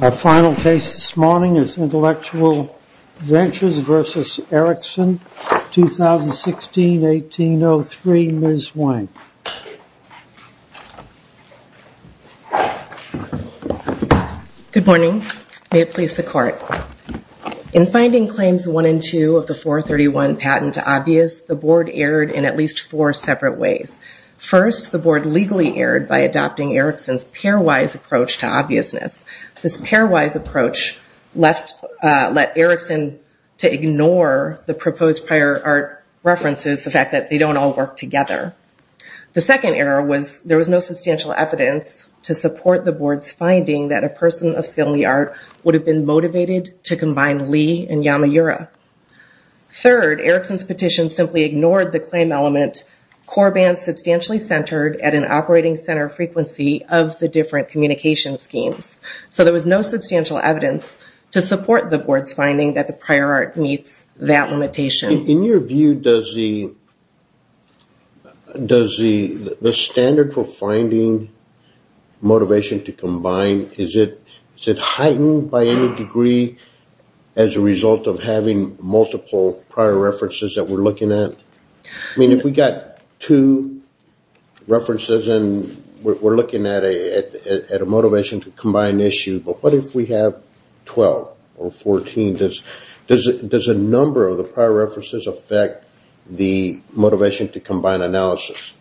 Our final case this morning is Intellectual Ventures v. Ericsson, 2016-18-03. Ms. Wang. Good morning. May it please the Court. In finding Claims 1 and 2 of the 431 patent obvious, the Board erred in at least four separate ways. First, the Board legally erred by adopting Ericsson's pairwise approach to obviousness. This pairwise approach let Ericsson to ignore the proposed prior art references, the fact that they don't all work together. The second error was there was no substantial evidence to support the Board's finding that a person of skill in the art would have been motivated to combine Lee and Yamaura. Third, Ericsson's petition simply ignored the claim element, core band substantially centered at an operating center frequency of the different communication schemes. So, there was no substantial evidence to support the Board's finding that the prior art meets that limitation. In your view, does the standard for finding motivation to combine, is it heightened by any degree as a result of having multiple prior references that we're looking at? I mean, if we got two references and we're looking at a motivation to combine issue, but what if we have 12 or 14? Does a number of the prior references affect the motivation to combine analysis?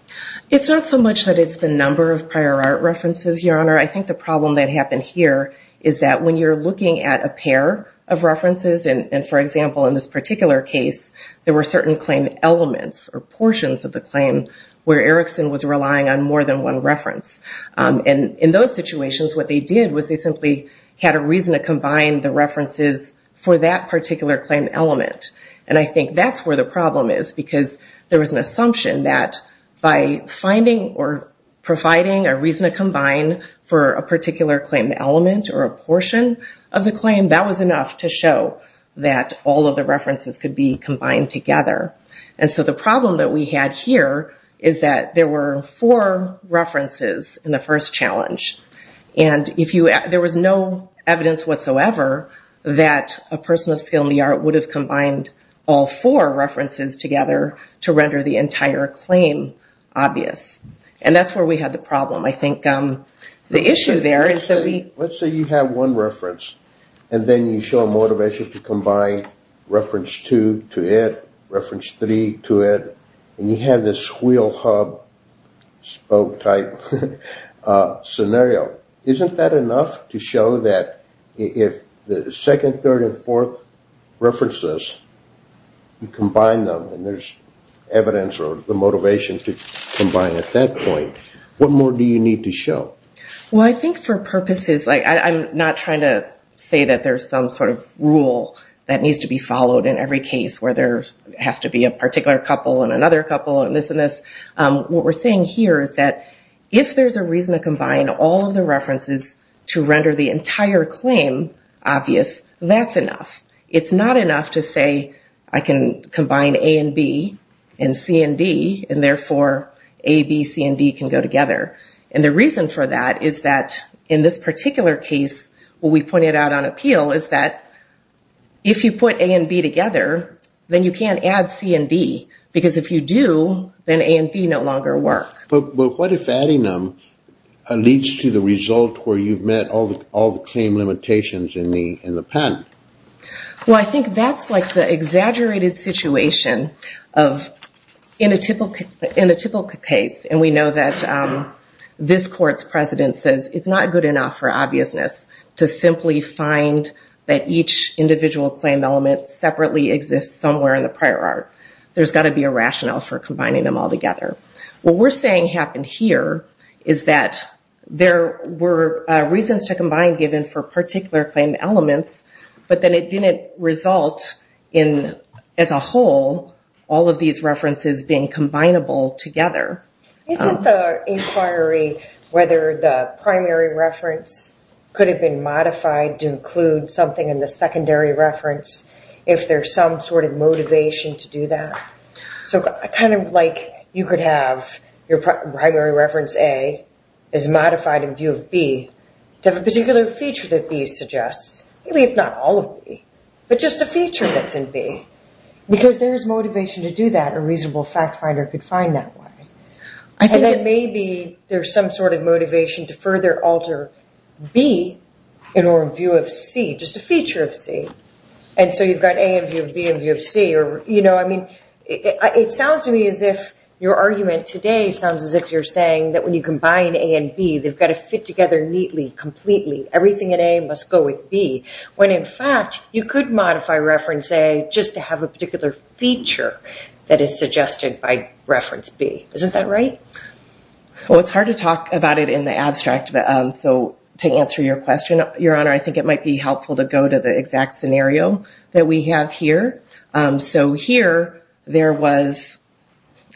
It's not so much that it's the number of prior references, Your Honor. I think the problem that happened here is that when you're looking at a pair of references, and for example, in this particular case, there were certain claim elements or portions of the claim where Ericsson was relying on more than one reference. And in those situations, what they did was they simply had a reason to combine the references for that particular claim element. And I think that's where the problem is, because there was an assumption that by finding or providing a reason to combine for a particular claim element or a portion of the claim, that was enough to show that all of the references could be combined together. And so, the problem that we had here is that there were four references in the first challenge. And there was no evidence whatsoever that a person of skill in the art would have the entire claim obvious. And that's where we had the problem. I think the issue there is that we... Let's say you have one reference, and then you show a motivation to combine reference two to it, reference three to it, and you have this wheel hub spoke type scenario. Isn't that enough to show that if the second, third, and fourth references, you combine them and there's evidence or the motivation to combine at that point, what more do you need to show? Well, I think for purposes... I'm not trying to say that there's some sort of rule that needs to be followed in every case where there has to be a particular couple and another couple and this and this. What we're saying here is that if there's a reason to combine all of the references to render the entire claim obvious, that's enough. It's not enough to say I can combine A and B and C and D, and therefore A, B, C, and D can go together. And the reason for that is that in this particular case, what we pointed out on appeal is that if you put A and B together, then you can't add C and D. Because if you do, then A and B no longer work. But what if adding them leads to the result where you've met all the claim limitations in the patent? Well, I think that's like the exaggerated situation of in a typical case, and we know that this court's president says it's not good enough for obviousness to simply find that each individual claim element separately exists somewhere in the prior art. There's got to be a rationale for combining them all together. What we're saying happened here is that there were reasons to elements, but then it didn't result in, as a whole, all of these references being combinable together. Isn't the inquiry whether the primary reference could have been modified to include something in the secondary reference if there's some sort of motivation to do that? So kind of like you could have your primary reference A is modified in view of B to have a particular feature that B suggests. Maybe it's not all of B, but just a feature that's in B. Because there's motivation to do that. A reasonable fact finder could find that way. And then maybe there's some sort of motivation to further alter B in our view of C, just a feature of C. And so you've got A in view of B in view of C. It sounds to me as if your argument today sounds as if you're saying that when you combine A and B, they've got to fit together neatly, completely. Everything in A must go with B. When in fact, you could modify reference A just to have a particular feature that is suggested by reference B. Isn't that right? Well, it's hard to talk about it in the abstract. So to answer your question, Your Honor, I think it might be helpful to go to the exact scenario that we have here. So here, there was,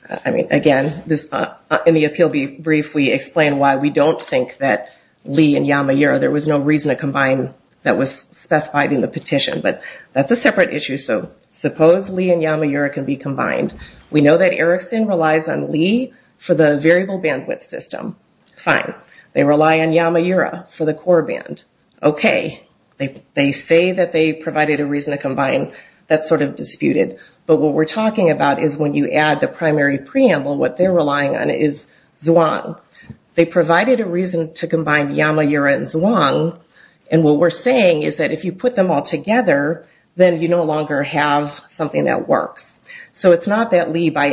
I mean, again, in the appeal brief, we explain why we don't think that Lee and Yamaura, there was no reason to combine that was specified in the petition. But that's a separate issue. So suppose Lee and Yamaura can be combined. We know that Erickson relies on Lee for the variable bandwidth system. Fine. They rely on Yamaura for the core band. Okay. They say that they provided a reason to combine. That's sort of disputed. But what we're talking about is when you add the primary preamble, what they're relying on is Zhuang. They provided a reason to combine Yamaura and Zhuang. And what we're saying is that if you put them all together, then you no longer have something that works. So it's not that Lee by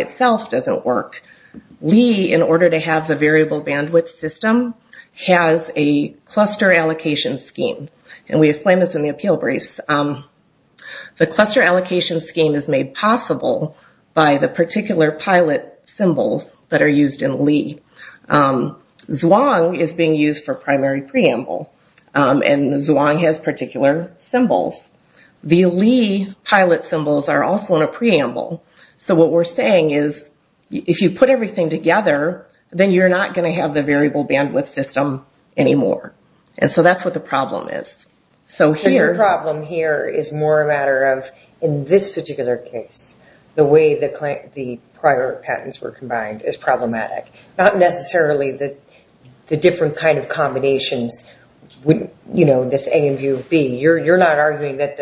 scheme. And we explain this in the appeal brief. The cluster allocation scheme is made possible by the particular pilot symbols that are used in Lee. Zhuang is being used for primary preamble. And Zhuang has particular symbols. The Lee pilot symbols are also in a preamble. So what we're saying is if you put everything together, then you're not going to have the variable bandwidth system anymore. And so that's what the problem is. So here... Your problem here is more a matter of, in this particular case, the way the prior patents were combined is problematic. Not necessarily the different kind of combinations, you know, this A in view of B. You're not arguing that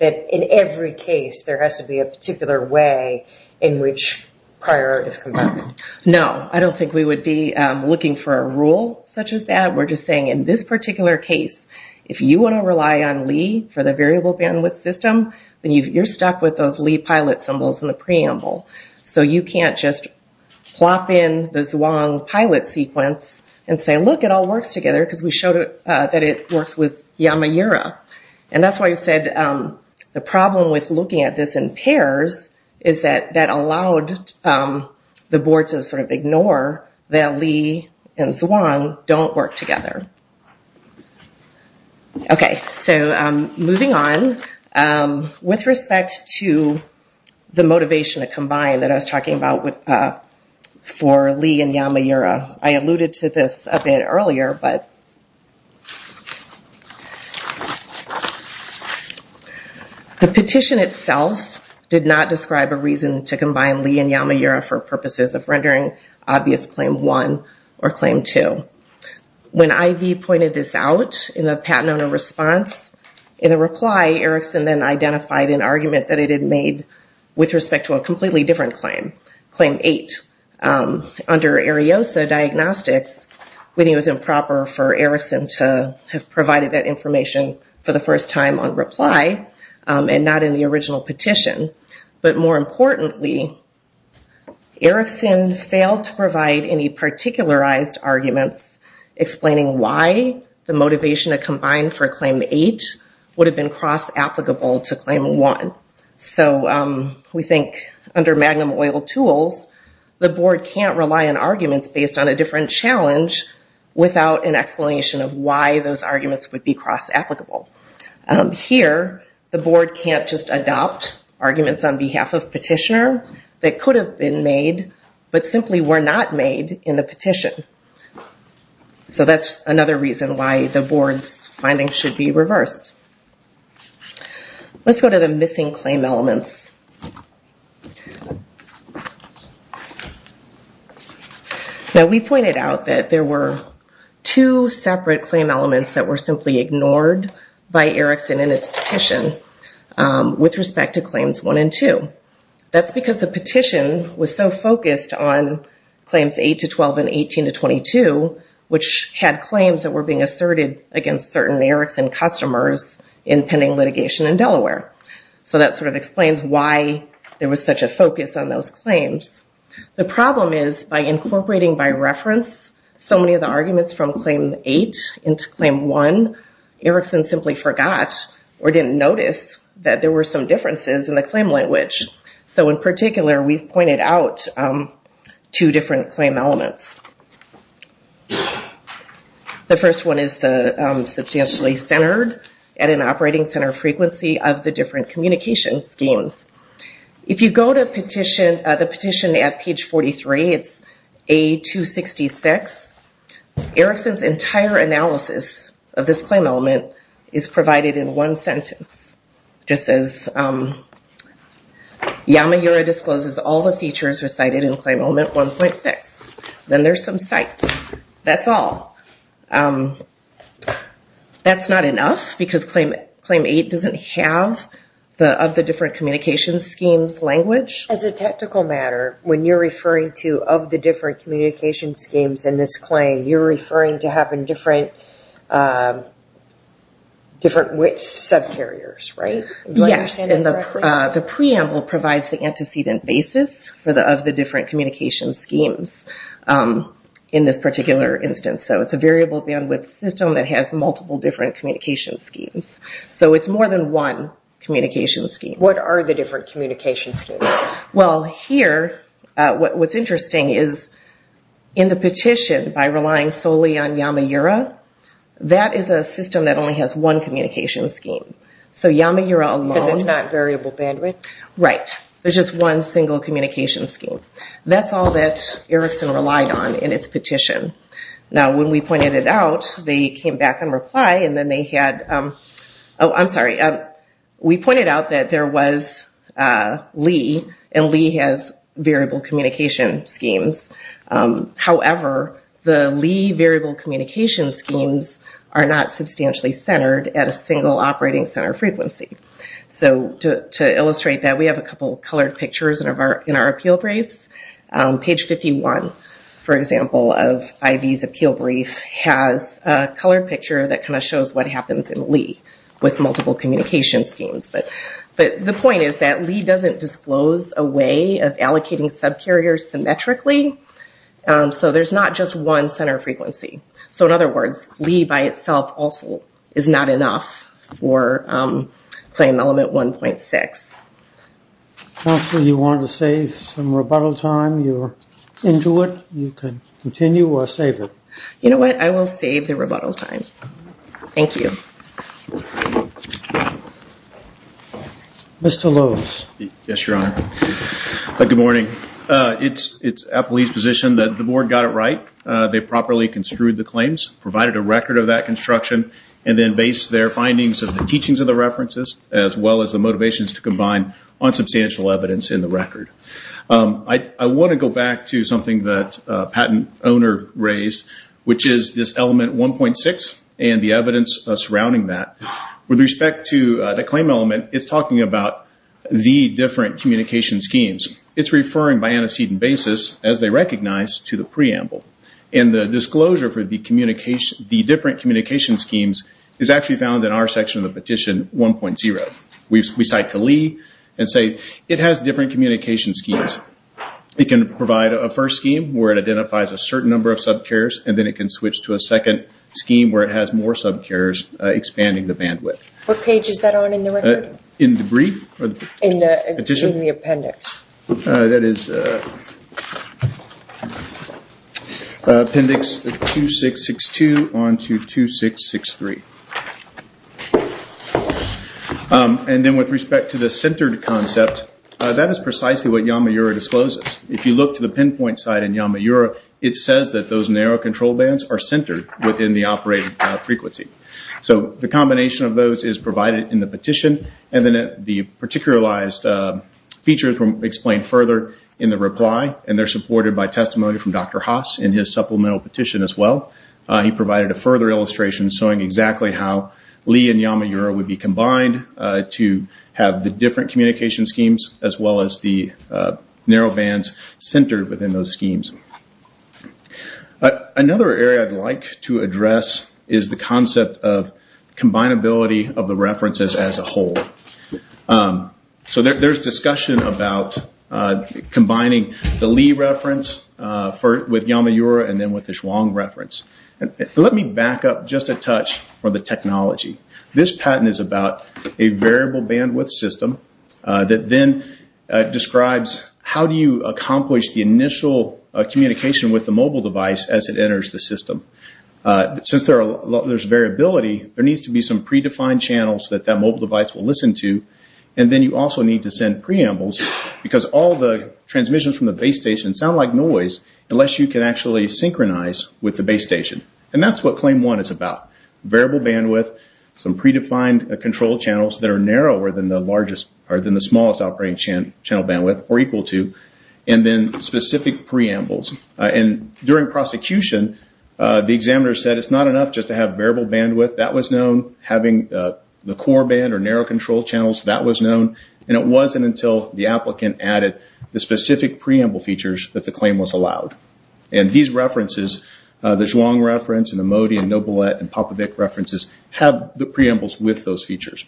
in every case there has to be a particular way in which prior is combined. No, I don't think we would be looking for a rule such as that. We're just saying in this particular case, if you want to rely on Lee for the variable bandwidth system, then you're stuck with those Lee pilot symbols in the preamble. So you can't just plop in the Zhuang pilot sequence and say, look, it all works together because we showed that it works with Yamaura. And that's why I said the problem with looking at this in pairs is that that allowed the board to sort of ignore that Lee and Zhuang don't work together. Okay. So moving on, with respect to the motivation to combine that I was talking about for Lee and Yamaura, I alluded to this a bit earlier, but the petition itself did not describe a reason to combine Lee and Yamaura for purposes of rendering obvious Claim 1 or Claim 2. When IV pointed this out in the patent owner response, in a reply, Erickson then identified an argument that it had made with respect to a completely different claim, Claim 8. Under Ariosa diagnostics, we think it was improper for Erickson to have provided that information for the first time on reply and not in the original petition. But more importantly, Erickson failed to provide any particularized arguments explaining why the motivation to combine for Claim 8 would have been cross-applicable to Claim 1. So we think under Magnum oil tools, the board can't rely on arguments based on a different challenge without an explanation of why those arguments would be cross-applicable. Here, the board can't just adopt arguments on behalf of petitioner that could have been made, but simply were not made in the petition. So that's another reason why the board's be reversed. Let's go to the missing claim elements. Now, we pointed out that there were two separate claim elements that were simply ignored by Erickson in its petition with respect to Claims 1 and 2. That's because the petition was so focused on Claims 8 to 12 and 18 to 22, which had claims that were being asserted against certain Erickson customers in pending litigation in Delaware. So that sort of explains why there was such a focus on those claims. The problem is by incorporating by reference so many of the arguments from Claim 8 into Claim 1, Erickson simply forgot or didn't notice that there were some differences in the claim language. So in particular, we've pointed out two different claim elements. The first one is the substantially centered at an operating center frequency of the different communication schemes. If you go to the petition at page 43, it's A266, Erickson's entire analysis of this claim element is provided in one sentence, just as Yamaguro discloses all the features recited in Claim Element 1.6. Then there's some cites. That's all. That's not enough because Claim 8 doesn't have the of the different communication schemes language. As a technical matter, when you're referring to of the different communication schemes in this claim, you're referring to having different width subcarriers, right? Yes, and the preamble provides the antecedent basis for the of the different communication schemes in this particular instance. So it's a variable bandwidth system that has multiple different communication schemes. So it's more than one communication scheme. What are the different communication schemes? Well here, what's interesting is in the petition by relying solely on Yamaguro, that is a system that only has one communication scheme. So Yamaguro alone... Because it's not variable bandwidth? Right, there's just one single communication scheme. That's all that Erickson relied on in its petition. Now when we pointed it out, they came back and replied and then they had... Oh, I'm sorry. We pointed out that there was variable communication schemes. However, the Lee variable communication schemes are not substantially centered at a single operating center frequency. So to illustrate that, we have a couple colored pictures in our appeal briefs. Page 51, for example, of IV's appeal brief has a colored picture that kind of shows what happens in Lee with multiple communication schemes. But the point is that Lee doesn't disclose a way of allocating subcarriers symmetrically. So there's not just one center frequency. So in other words, Lee by itself also is not enough for claim element 1.6. Counselor, you wanted to save some rebuttal time. You're into it. You can continue or save it. You know what? I will save the rebuttal time. Thank you. Mr. Lewis. Yes, Your Honor. Good morning. It's at Lee's position that the board got it right. They properly construed the claims, provided a record of that construction, and then based their findings of the teachings of the references as well as the motivations to combine on substantial evidence in the record. I want to go back to something that a patent owner raised, which is this element 1.6 and the evidence surrounding that. With respect to the claim element, it's talking about the different communication schemes. It's referring by antecedent basis, as they recognize, to the preamble. And the disclosure for the different communication schemes is actually found in our section of the petition 1.0. We cite to Lee and say it has different communication schemes. It can provide a first scheme where it identifies a certain number of subcarriers and it can switch to a second scheme where it has more subcarriers, expanding the bandwidth. What page is that on in the record? In the brief? In the appendix. That is appendix 2662 on to 2663. Then with respect to the centered concept, that is precisely what Yamaura discloses. If you look the pinpoint site in Yamaura, it says that those narrow control bands are centered within the operating frequency. The combination of those is provided in the petition. The particularized features are explained further in the reply and they are supported by testimony from Dr. Haas in his supplemental petition as well. He provided a further illustration showing exactly how Lee and Yamaura would be combined to have the different communication schemes as well as the narrow bands centered within those schemes. Another area I would like to address is the concept of combinability of the references as a whole. There is discussion about combining the Lee reference with Yamaura and then with the Chuang reference. Let me back up just a touch for the technology. This patent is about a variable bandwidth system that then describes how do you accomplish the initial communication with the mobile device as it enters the system. Since there is variability, there needs to be some predefined channels that the mobile device will listen to. Then you also need to send preambles because all the transmissions from the base station sound like noise unless you can actually synchronize with the base station. That is what claim one is about. Variable bandwidth, some predefined control channels that are narrower than the smallest operating channel bandwidth or equal to, and then specific preambles. During prosecution, the examiner said it is not enough just to have variable bandwidth. That was known. Having the core band or narrow control channels, that was known. It wasn't until the applicant added the specific preamble features that the claim was allowed. These references, the Chuang reference and the Modi and Nobilet and the preambles with those features.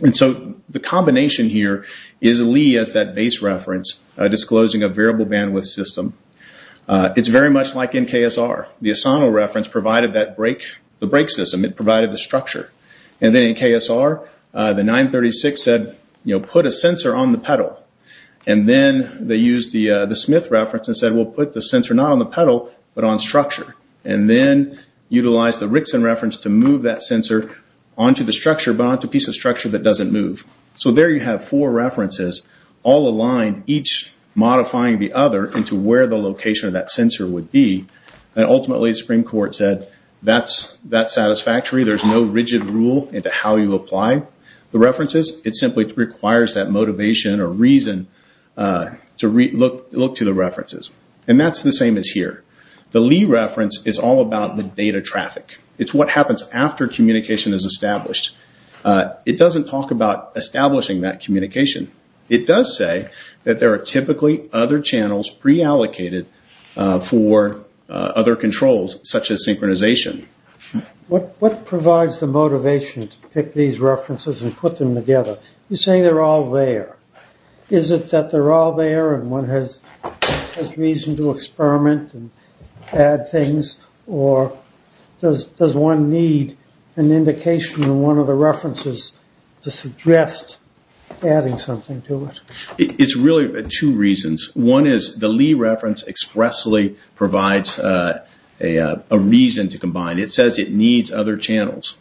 The combination here is Lee as that base reference disclosing a variable bandwidth system. It is very much like in KSR. The Asano reference provided the brake system. It provided the structure. Then in KSR, the 936 said put a sensor on the pedal. Then they used the Smith reference and said we will put the sensor not on the pedal but on onto the structure but onto a piece of structure that doesn't move. There you have four references all aligned, each modifying the other into where the location of that sensor would be. Ultimately, the Supreme Court said that is satisfactory. There is no rigid rule into how you apply the references. It simply requires that motivation or reason to look to the references. That is the same as here. The Lee reference is all about the data traffic. It is what happens after communication is established. It doesn't talk about establishing that communication. It does say that there are typically other channels preallocated for other controls such as synchronization. What provides the motivation to pick these references and put them together? You say they are all there. Is it that they are all there and one has reason to experiment and add things or does one need an indication in one of the references to suggest adding something to it? It is really two reasons. One is the Lee reference expressly provides a reason to combine. It says it needs other channels.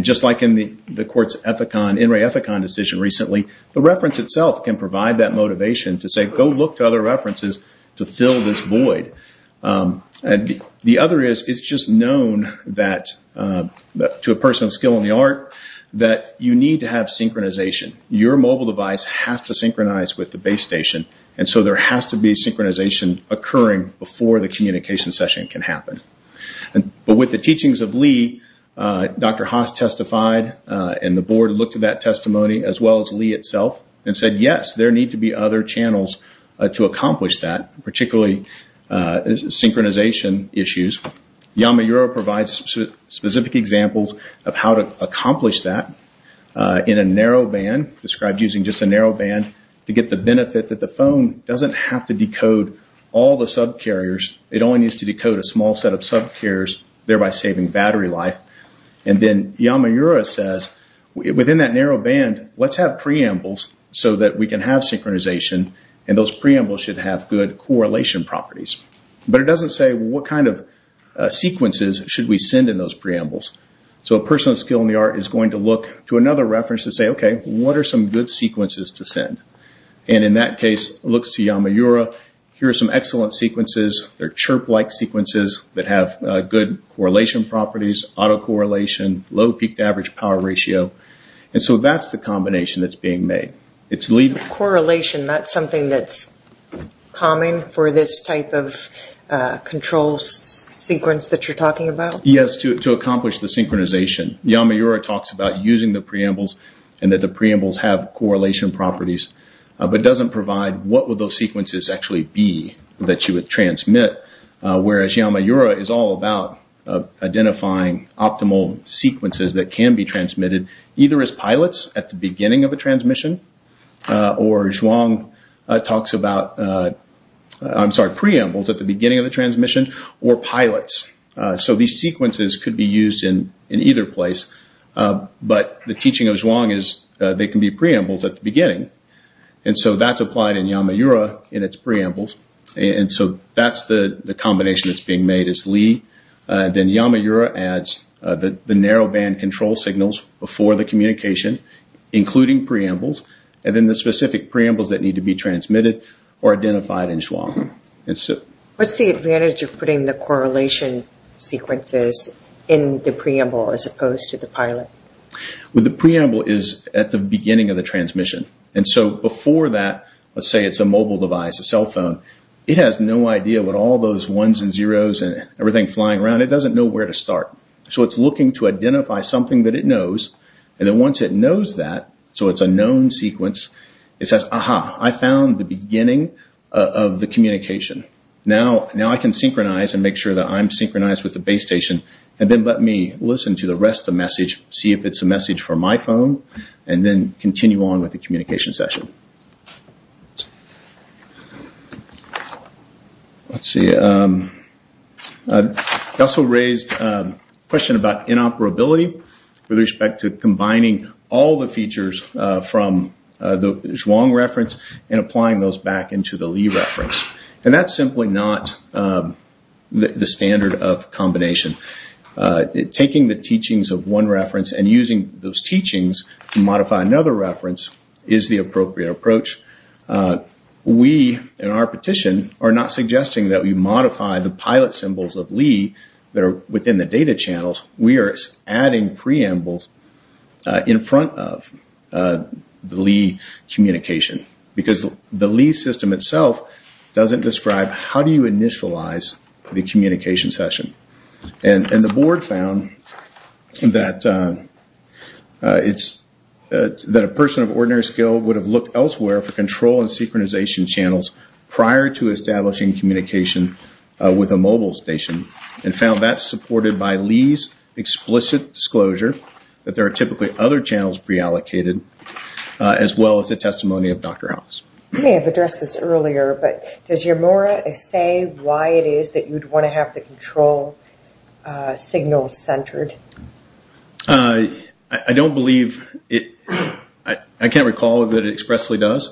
Just like in the court's Ethicon decision recently, the reference itself can provide that motivation to say, go look to other references to fill this void. The other is it is just known to a person of skill in the art that you need to have synchronization. Your mobile device has to synchronize with the base station. There has to be synchronization occurring before the communication session can happen. With the teachings of Lee, Dr. Haas testified and the board looked at that testimony as well and said, yes, there need to be other channels to accomplish that, particularly synchronization issues. Yamaura provides specific examples of how to accomplish that in a narrow band described using just a narrow band to get the benefit that the phone does not have to decode all the subcarriers. It only needs to decode a small set of subcarriers, thereby saving battery life. Yamaura says, within that narrow band, let's have preambles so that we can have synchronization and those preambles should have good correlation properties. But it does not say what kind of sequences should we send in those preambles. So a person of skill in the art is going to look to another reference to say, okay, what are some good sequences to send? In that case, it looks to Yamaura, here are some excellent sequences. They are chirp-like sequences that have good correlation properties, auto-correlation, low peak-to-average power ratio. So that is the combination that is being made. It is Lee. Correlation, that is something that is common for this type of control sequence that you are talking about? Yes, to accomplish the synchronization. Yamaura talks about using the preambles and that the preambles have correlation properties but does not provide what would sequences actually be that you would transmit. Whereas Yamaura is all about identifying optimal sequences that can be transmitted either as pilots at the beginning of a transmission or Zhuang talks about, I'm sorry, preambles at the beginning of the transmission or pilots. So these sequences could be used in either place. But the teaching of Zhuang is they can be Yamaura in its preambles. And so that is the combination that is being made. It is Lee. Then Yamaura adds the narrow band control signals before the communication, including preambles. And then the specific preambles that need to be transmitted are identified in Zhuang. What is the advantage of putting the correlation sequences in the preamble as opposed to the pilot? The preamble is at the beginning of the transmission. And so before that, let's say it's a mobile device, a cell phone. It has no idea what all those ones and zeros and everything flying around. It doesn't know where to start. So it's looking to identify something that it knows. And then once it knows that, so it's a known sequence, it says, aha, I found the beginning of the communication. Now I can synchronize and make sure that I'm synchronized with the base station. And then let me listen to the rest of the message, see if it's a message from my phone, and then continue on with the communication session. Let's see. I also raised a question about inoperability with respect to combining all the features from the Zhuang reference and applying those back into the Lee reference. And that's simply not the standard of combination. Taking the teachings of one reference and using those teachings to modify another reference is the appropriate approach. We, in our petition, are not suggesting that we modify the pilot symbols of Lee that are within the data channels. We are adding preambles in front of the Lee communication. Because the Lee system itself doesn't describe how do you initialize the communication session. And the board found that it's, that a person of ordinary skill would have looked elsewhere for control and synchronization channels prior to establishing communication with a mobile station and found that supported by Lee's explicit disclosure that there are typically other channels preallocated as well as the testimony of Dr. House. I may have addressed this earlier, but does want to have the control signal centered? I don't believe it. I can't recall that it expressly does.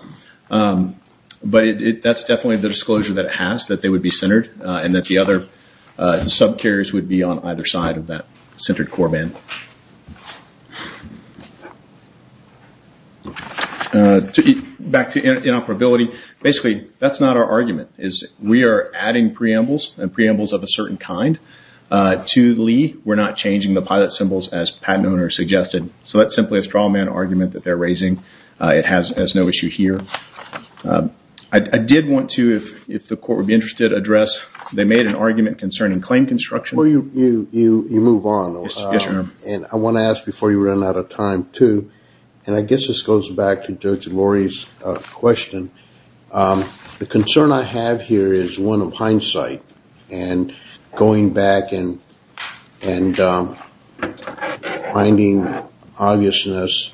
But that's definitely the disclosure that it has, that they would be centered and that the other subcarriers would be on either side of that centered core band. Okay. Back to inoperability. Basically, that's not our argument. We are adding preambles and preambles of a certain kind to Lee. We're not changing the pilot symbols as patent owners suggested. So that's simply a straw man argument that they're raising. It has no issue here. I did want to, if the court would be interested, address, they made an argument concerning claim construction. You move on. Yes, ma'am. I want to ask before you run out of time, too, and I guess this goes back to Judge Lori's question. The concern I have here is one of hindsight and going back and finding obviousness,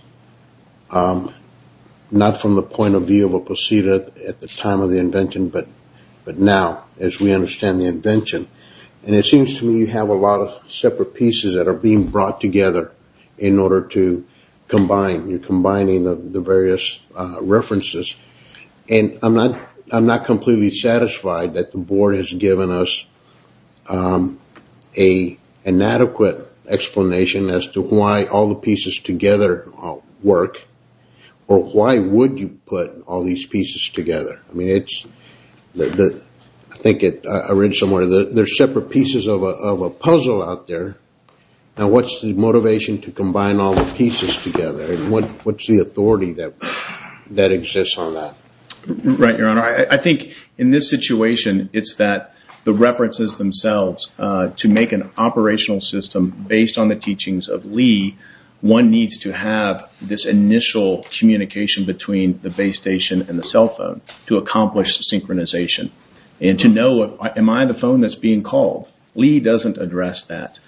not from the point of view of a procedure at the time of the invention, but now as we understand the invention. It seems to me you have a lot of separate pieces that are being brought together in order to combine. You're combining the various references. I'm not completely satisfied that the board has given us an adequate explanation as to why all the pieces together work, or why would you put all these pieces together. I think I read somewhere there's separate pieces of a puzzle out there. Now, what's the motivation to combine all the pieces together? What's the authority that exists on that? Right, Your Honor. I think in this situation, it's that the references themselves to make an one needs to have this initial communication between the base station and the cell phone to accomplish synchronization and to know, am I the phone that's being called? Lee doesn't address that.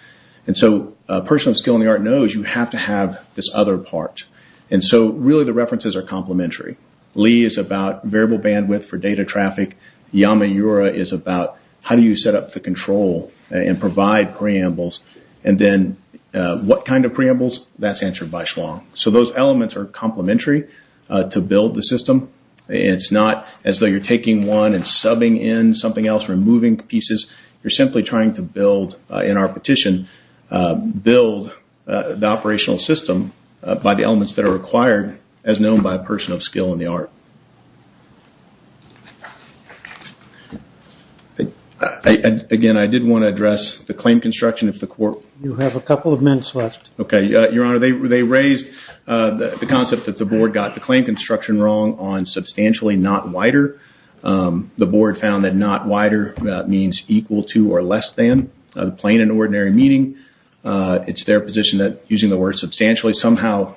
A person of skill in the art knows you have to have this other part. Really, the references are complementary. Lee is about variable bandwidth for data traffic. Yamaura is about how do you set the control and provide preambles? What kind of preambles? That's answered by Schwong. Those elements are complementary to build the system. It's not as though you're taking one and subbing in something else, removing pieces. You're simply trying to build, in our petition, build the operational system by the elements that are required, as known by a person of skill in the art. Again, I did want to address the claim construction. You have a couple of minutes left. Okay, Your Honor. They raised the concept that the board got the claim construction wrong on substantially not wider. The board found that not wider means equal to or less than, plain and ordinary meaning. It's their position that using the word substantially somehow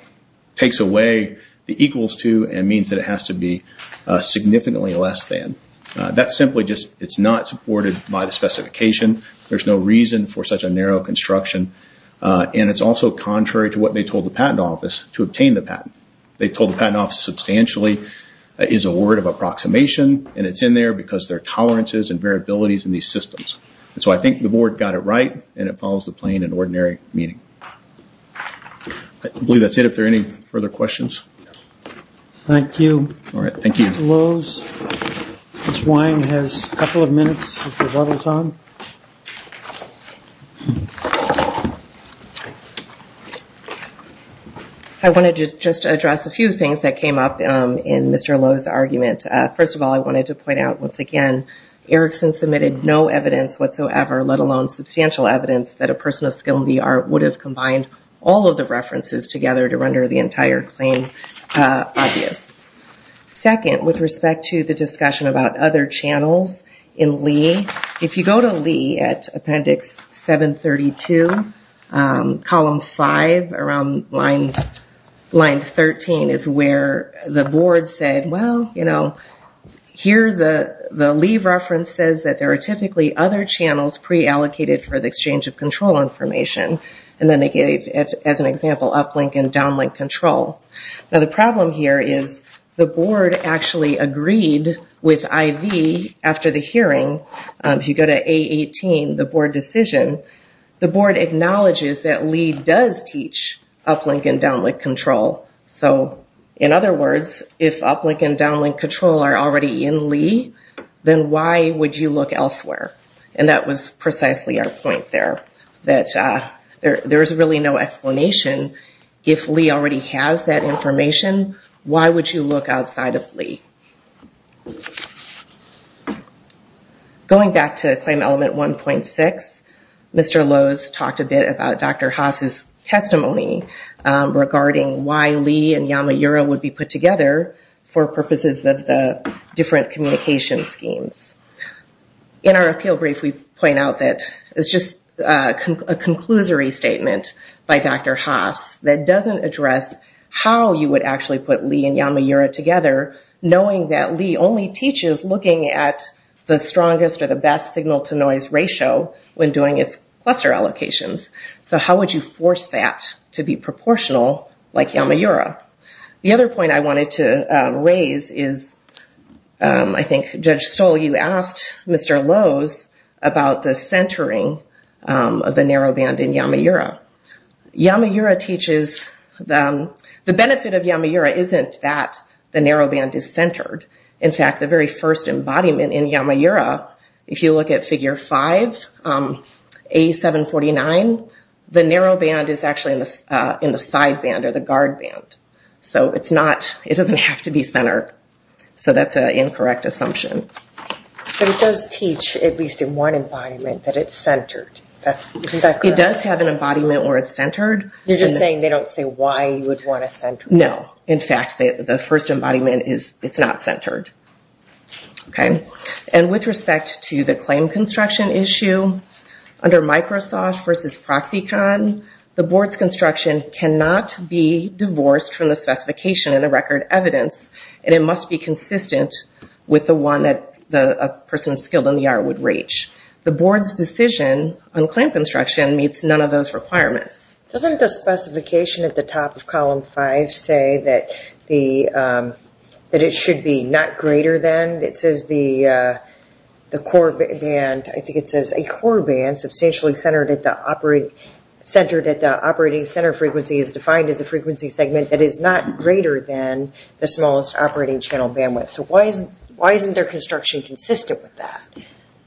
takes away the meaning. It has to be significantly less than. It's not supported by the specification. There's no reason for such a narrow construction. It's also contrary to what they told the patent office to obtain the patent. They told the patent office substantially is a word of approximation, and it's in there because there are tolerances and variabilities in these systems. I think the board got it right, and it follows the plain and ordinary meaning. I believe that's it. Are there any further questions? Thank you. All right. Thank you. Mr. Lowe's. Ms. Wyman has a couple of minutes of rebuttal time. I wanted to just address a few things that came up in Mr. Lowe's argument. First of all, I wanted to point out, once again, Erickson submitted no evidence whatsoever, let alone substantial evidence, that a person of skill in the art would have combined all of the references together to render the entire claim obvious. Second, with respect to the discussion about other channels in Lee, if you go to Lee at appendix 732, column 5 around line 13 is where the board said, well, here the Lee reference says that there are typically other channels pre-allocated for the exchange of control information, and then they gave, as an example, uplink and downlink control. Now, the problem here is the board actually agreed with IV after the hearing. If you go to A18, the board decision, the board acknowledges that Lee does teach uplink and downlink control. So, in other words, if uplink and downlink control are already in Lee, then why would you look elsewhere? And that was precisely our point there, that there's really no explanation. If Lee already has that information, why would you look outside of Lee? Going back to Claim Element 1.6, Mr. Lowe's talked a bit about Dr. Haas's testimony regarding why Lee and Yamaura would be put together for purposes of the different communication schemes. In our appeal brief, we point out that it's just a conclusory statement by Dr. Haas that doesn't address how you would actually put Lee and Yamaura together, knowing that Lee only teaches looking at the strongest or the best signal-to-noise ratio when doing its cluster allocations. So, how would you force that to be proportional like Yamaura? The other point I wanted to raise is, I think, Judge Stoll, you asked Mr. Lowe's about the centering of the narrow band in Yamaura. Yamaura teaches... The benefit of Yamaura isn't that the narrow band is centered. In fact, the very first embodiment in Yamaura, if you look at Figure 5, A749, the narrow band is actually in the side band or the guard band. So, it's not... It doesn't have to be centered. So, that's an incorrect assumption. But it does teach, at least in one embodiment, that it's centered. Isn't that correct? It does have an embodiment where it's centered. You're just saying they don't say why you would want to center it. No. In fact, the first embodiment is it's not centered. And with respect to the claim construction issue, under Microsoft versus Proxicon, the board's construction cannot be divorced from the specification in the record evidence, and it must be consistent with the one that a person skilled in the art would reach. The board's decision on claim construction meets none of those requirements. Doesn't the specification at the top of Column 5 say that it should be not greater than... It centered at the operating center frequency is defined as a frequency segment that is not greater than the smallest operating channel bandwidth. So, why isn't their construction consistent with that?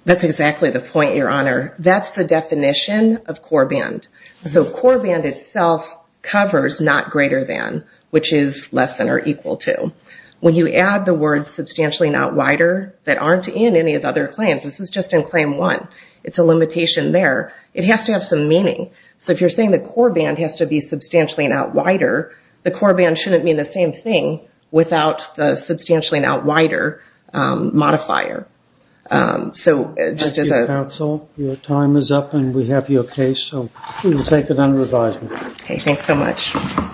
That's exactly the point, Your Honor. That's the definition of core band. So, core band itself covers not greater than, which is less than or equal to. When you add the words substantially not wider that aren't in any of the other claims, this is just in Claim 1, it's a limitation there. It has to have some meaning. So, if you're saying the core band has to be substantially not wider, the core band shouldn't mean the same thing without the substantially not wider modifier. So, just as a... Counsel, your time is up and we have your case. So, we will take it under advisement. Okay. Thanks so much.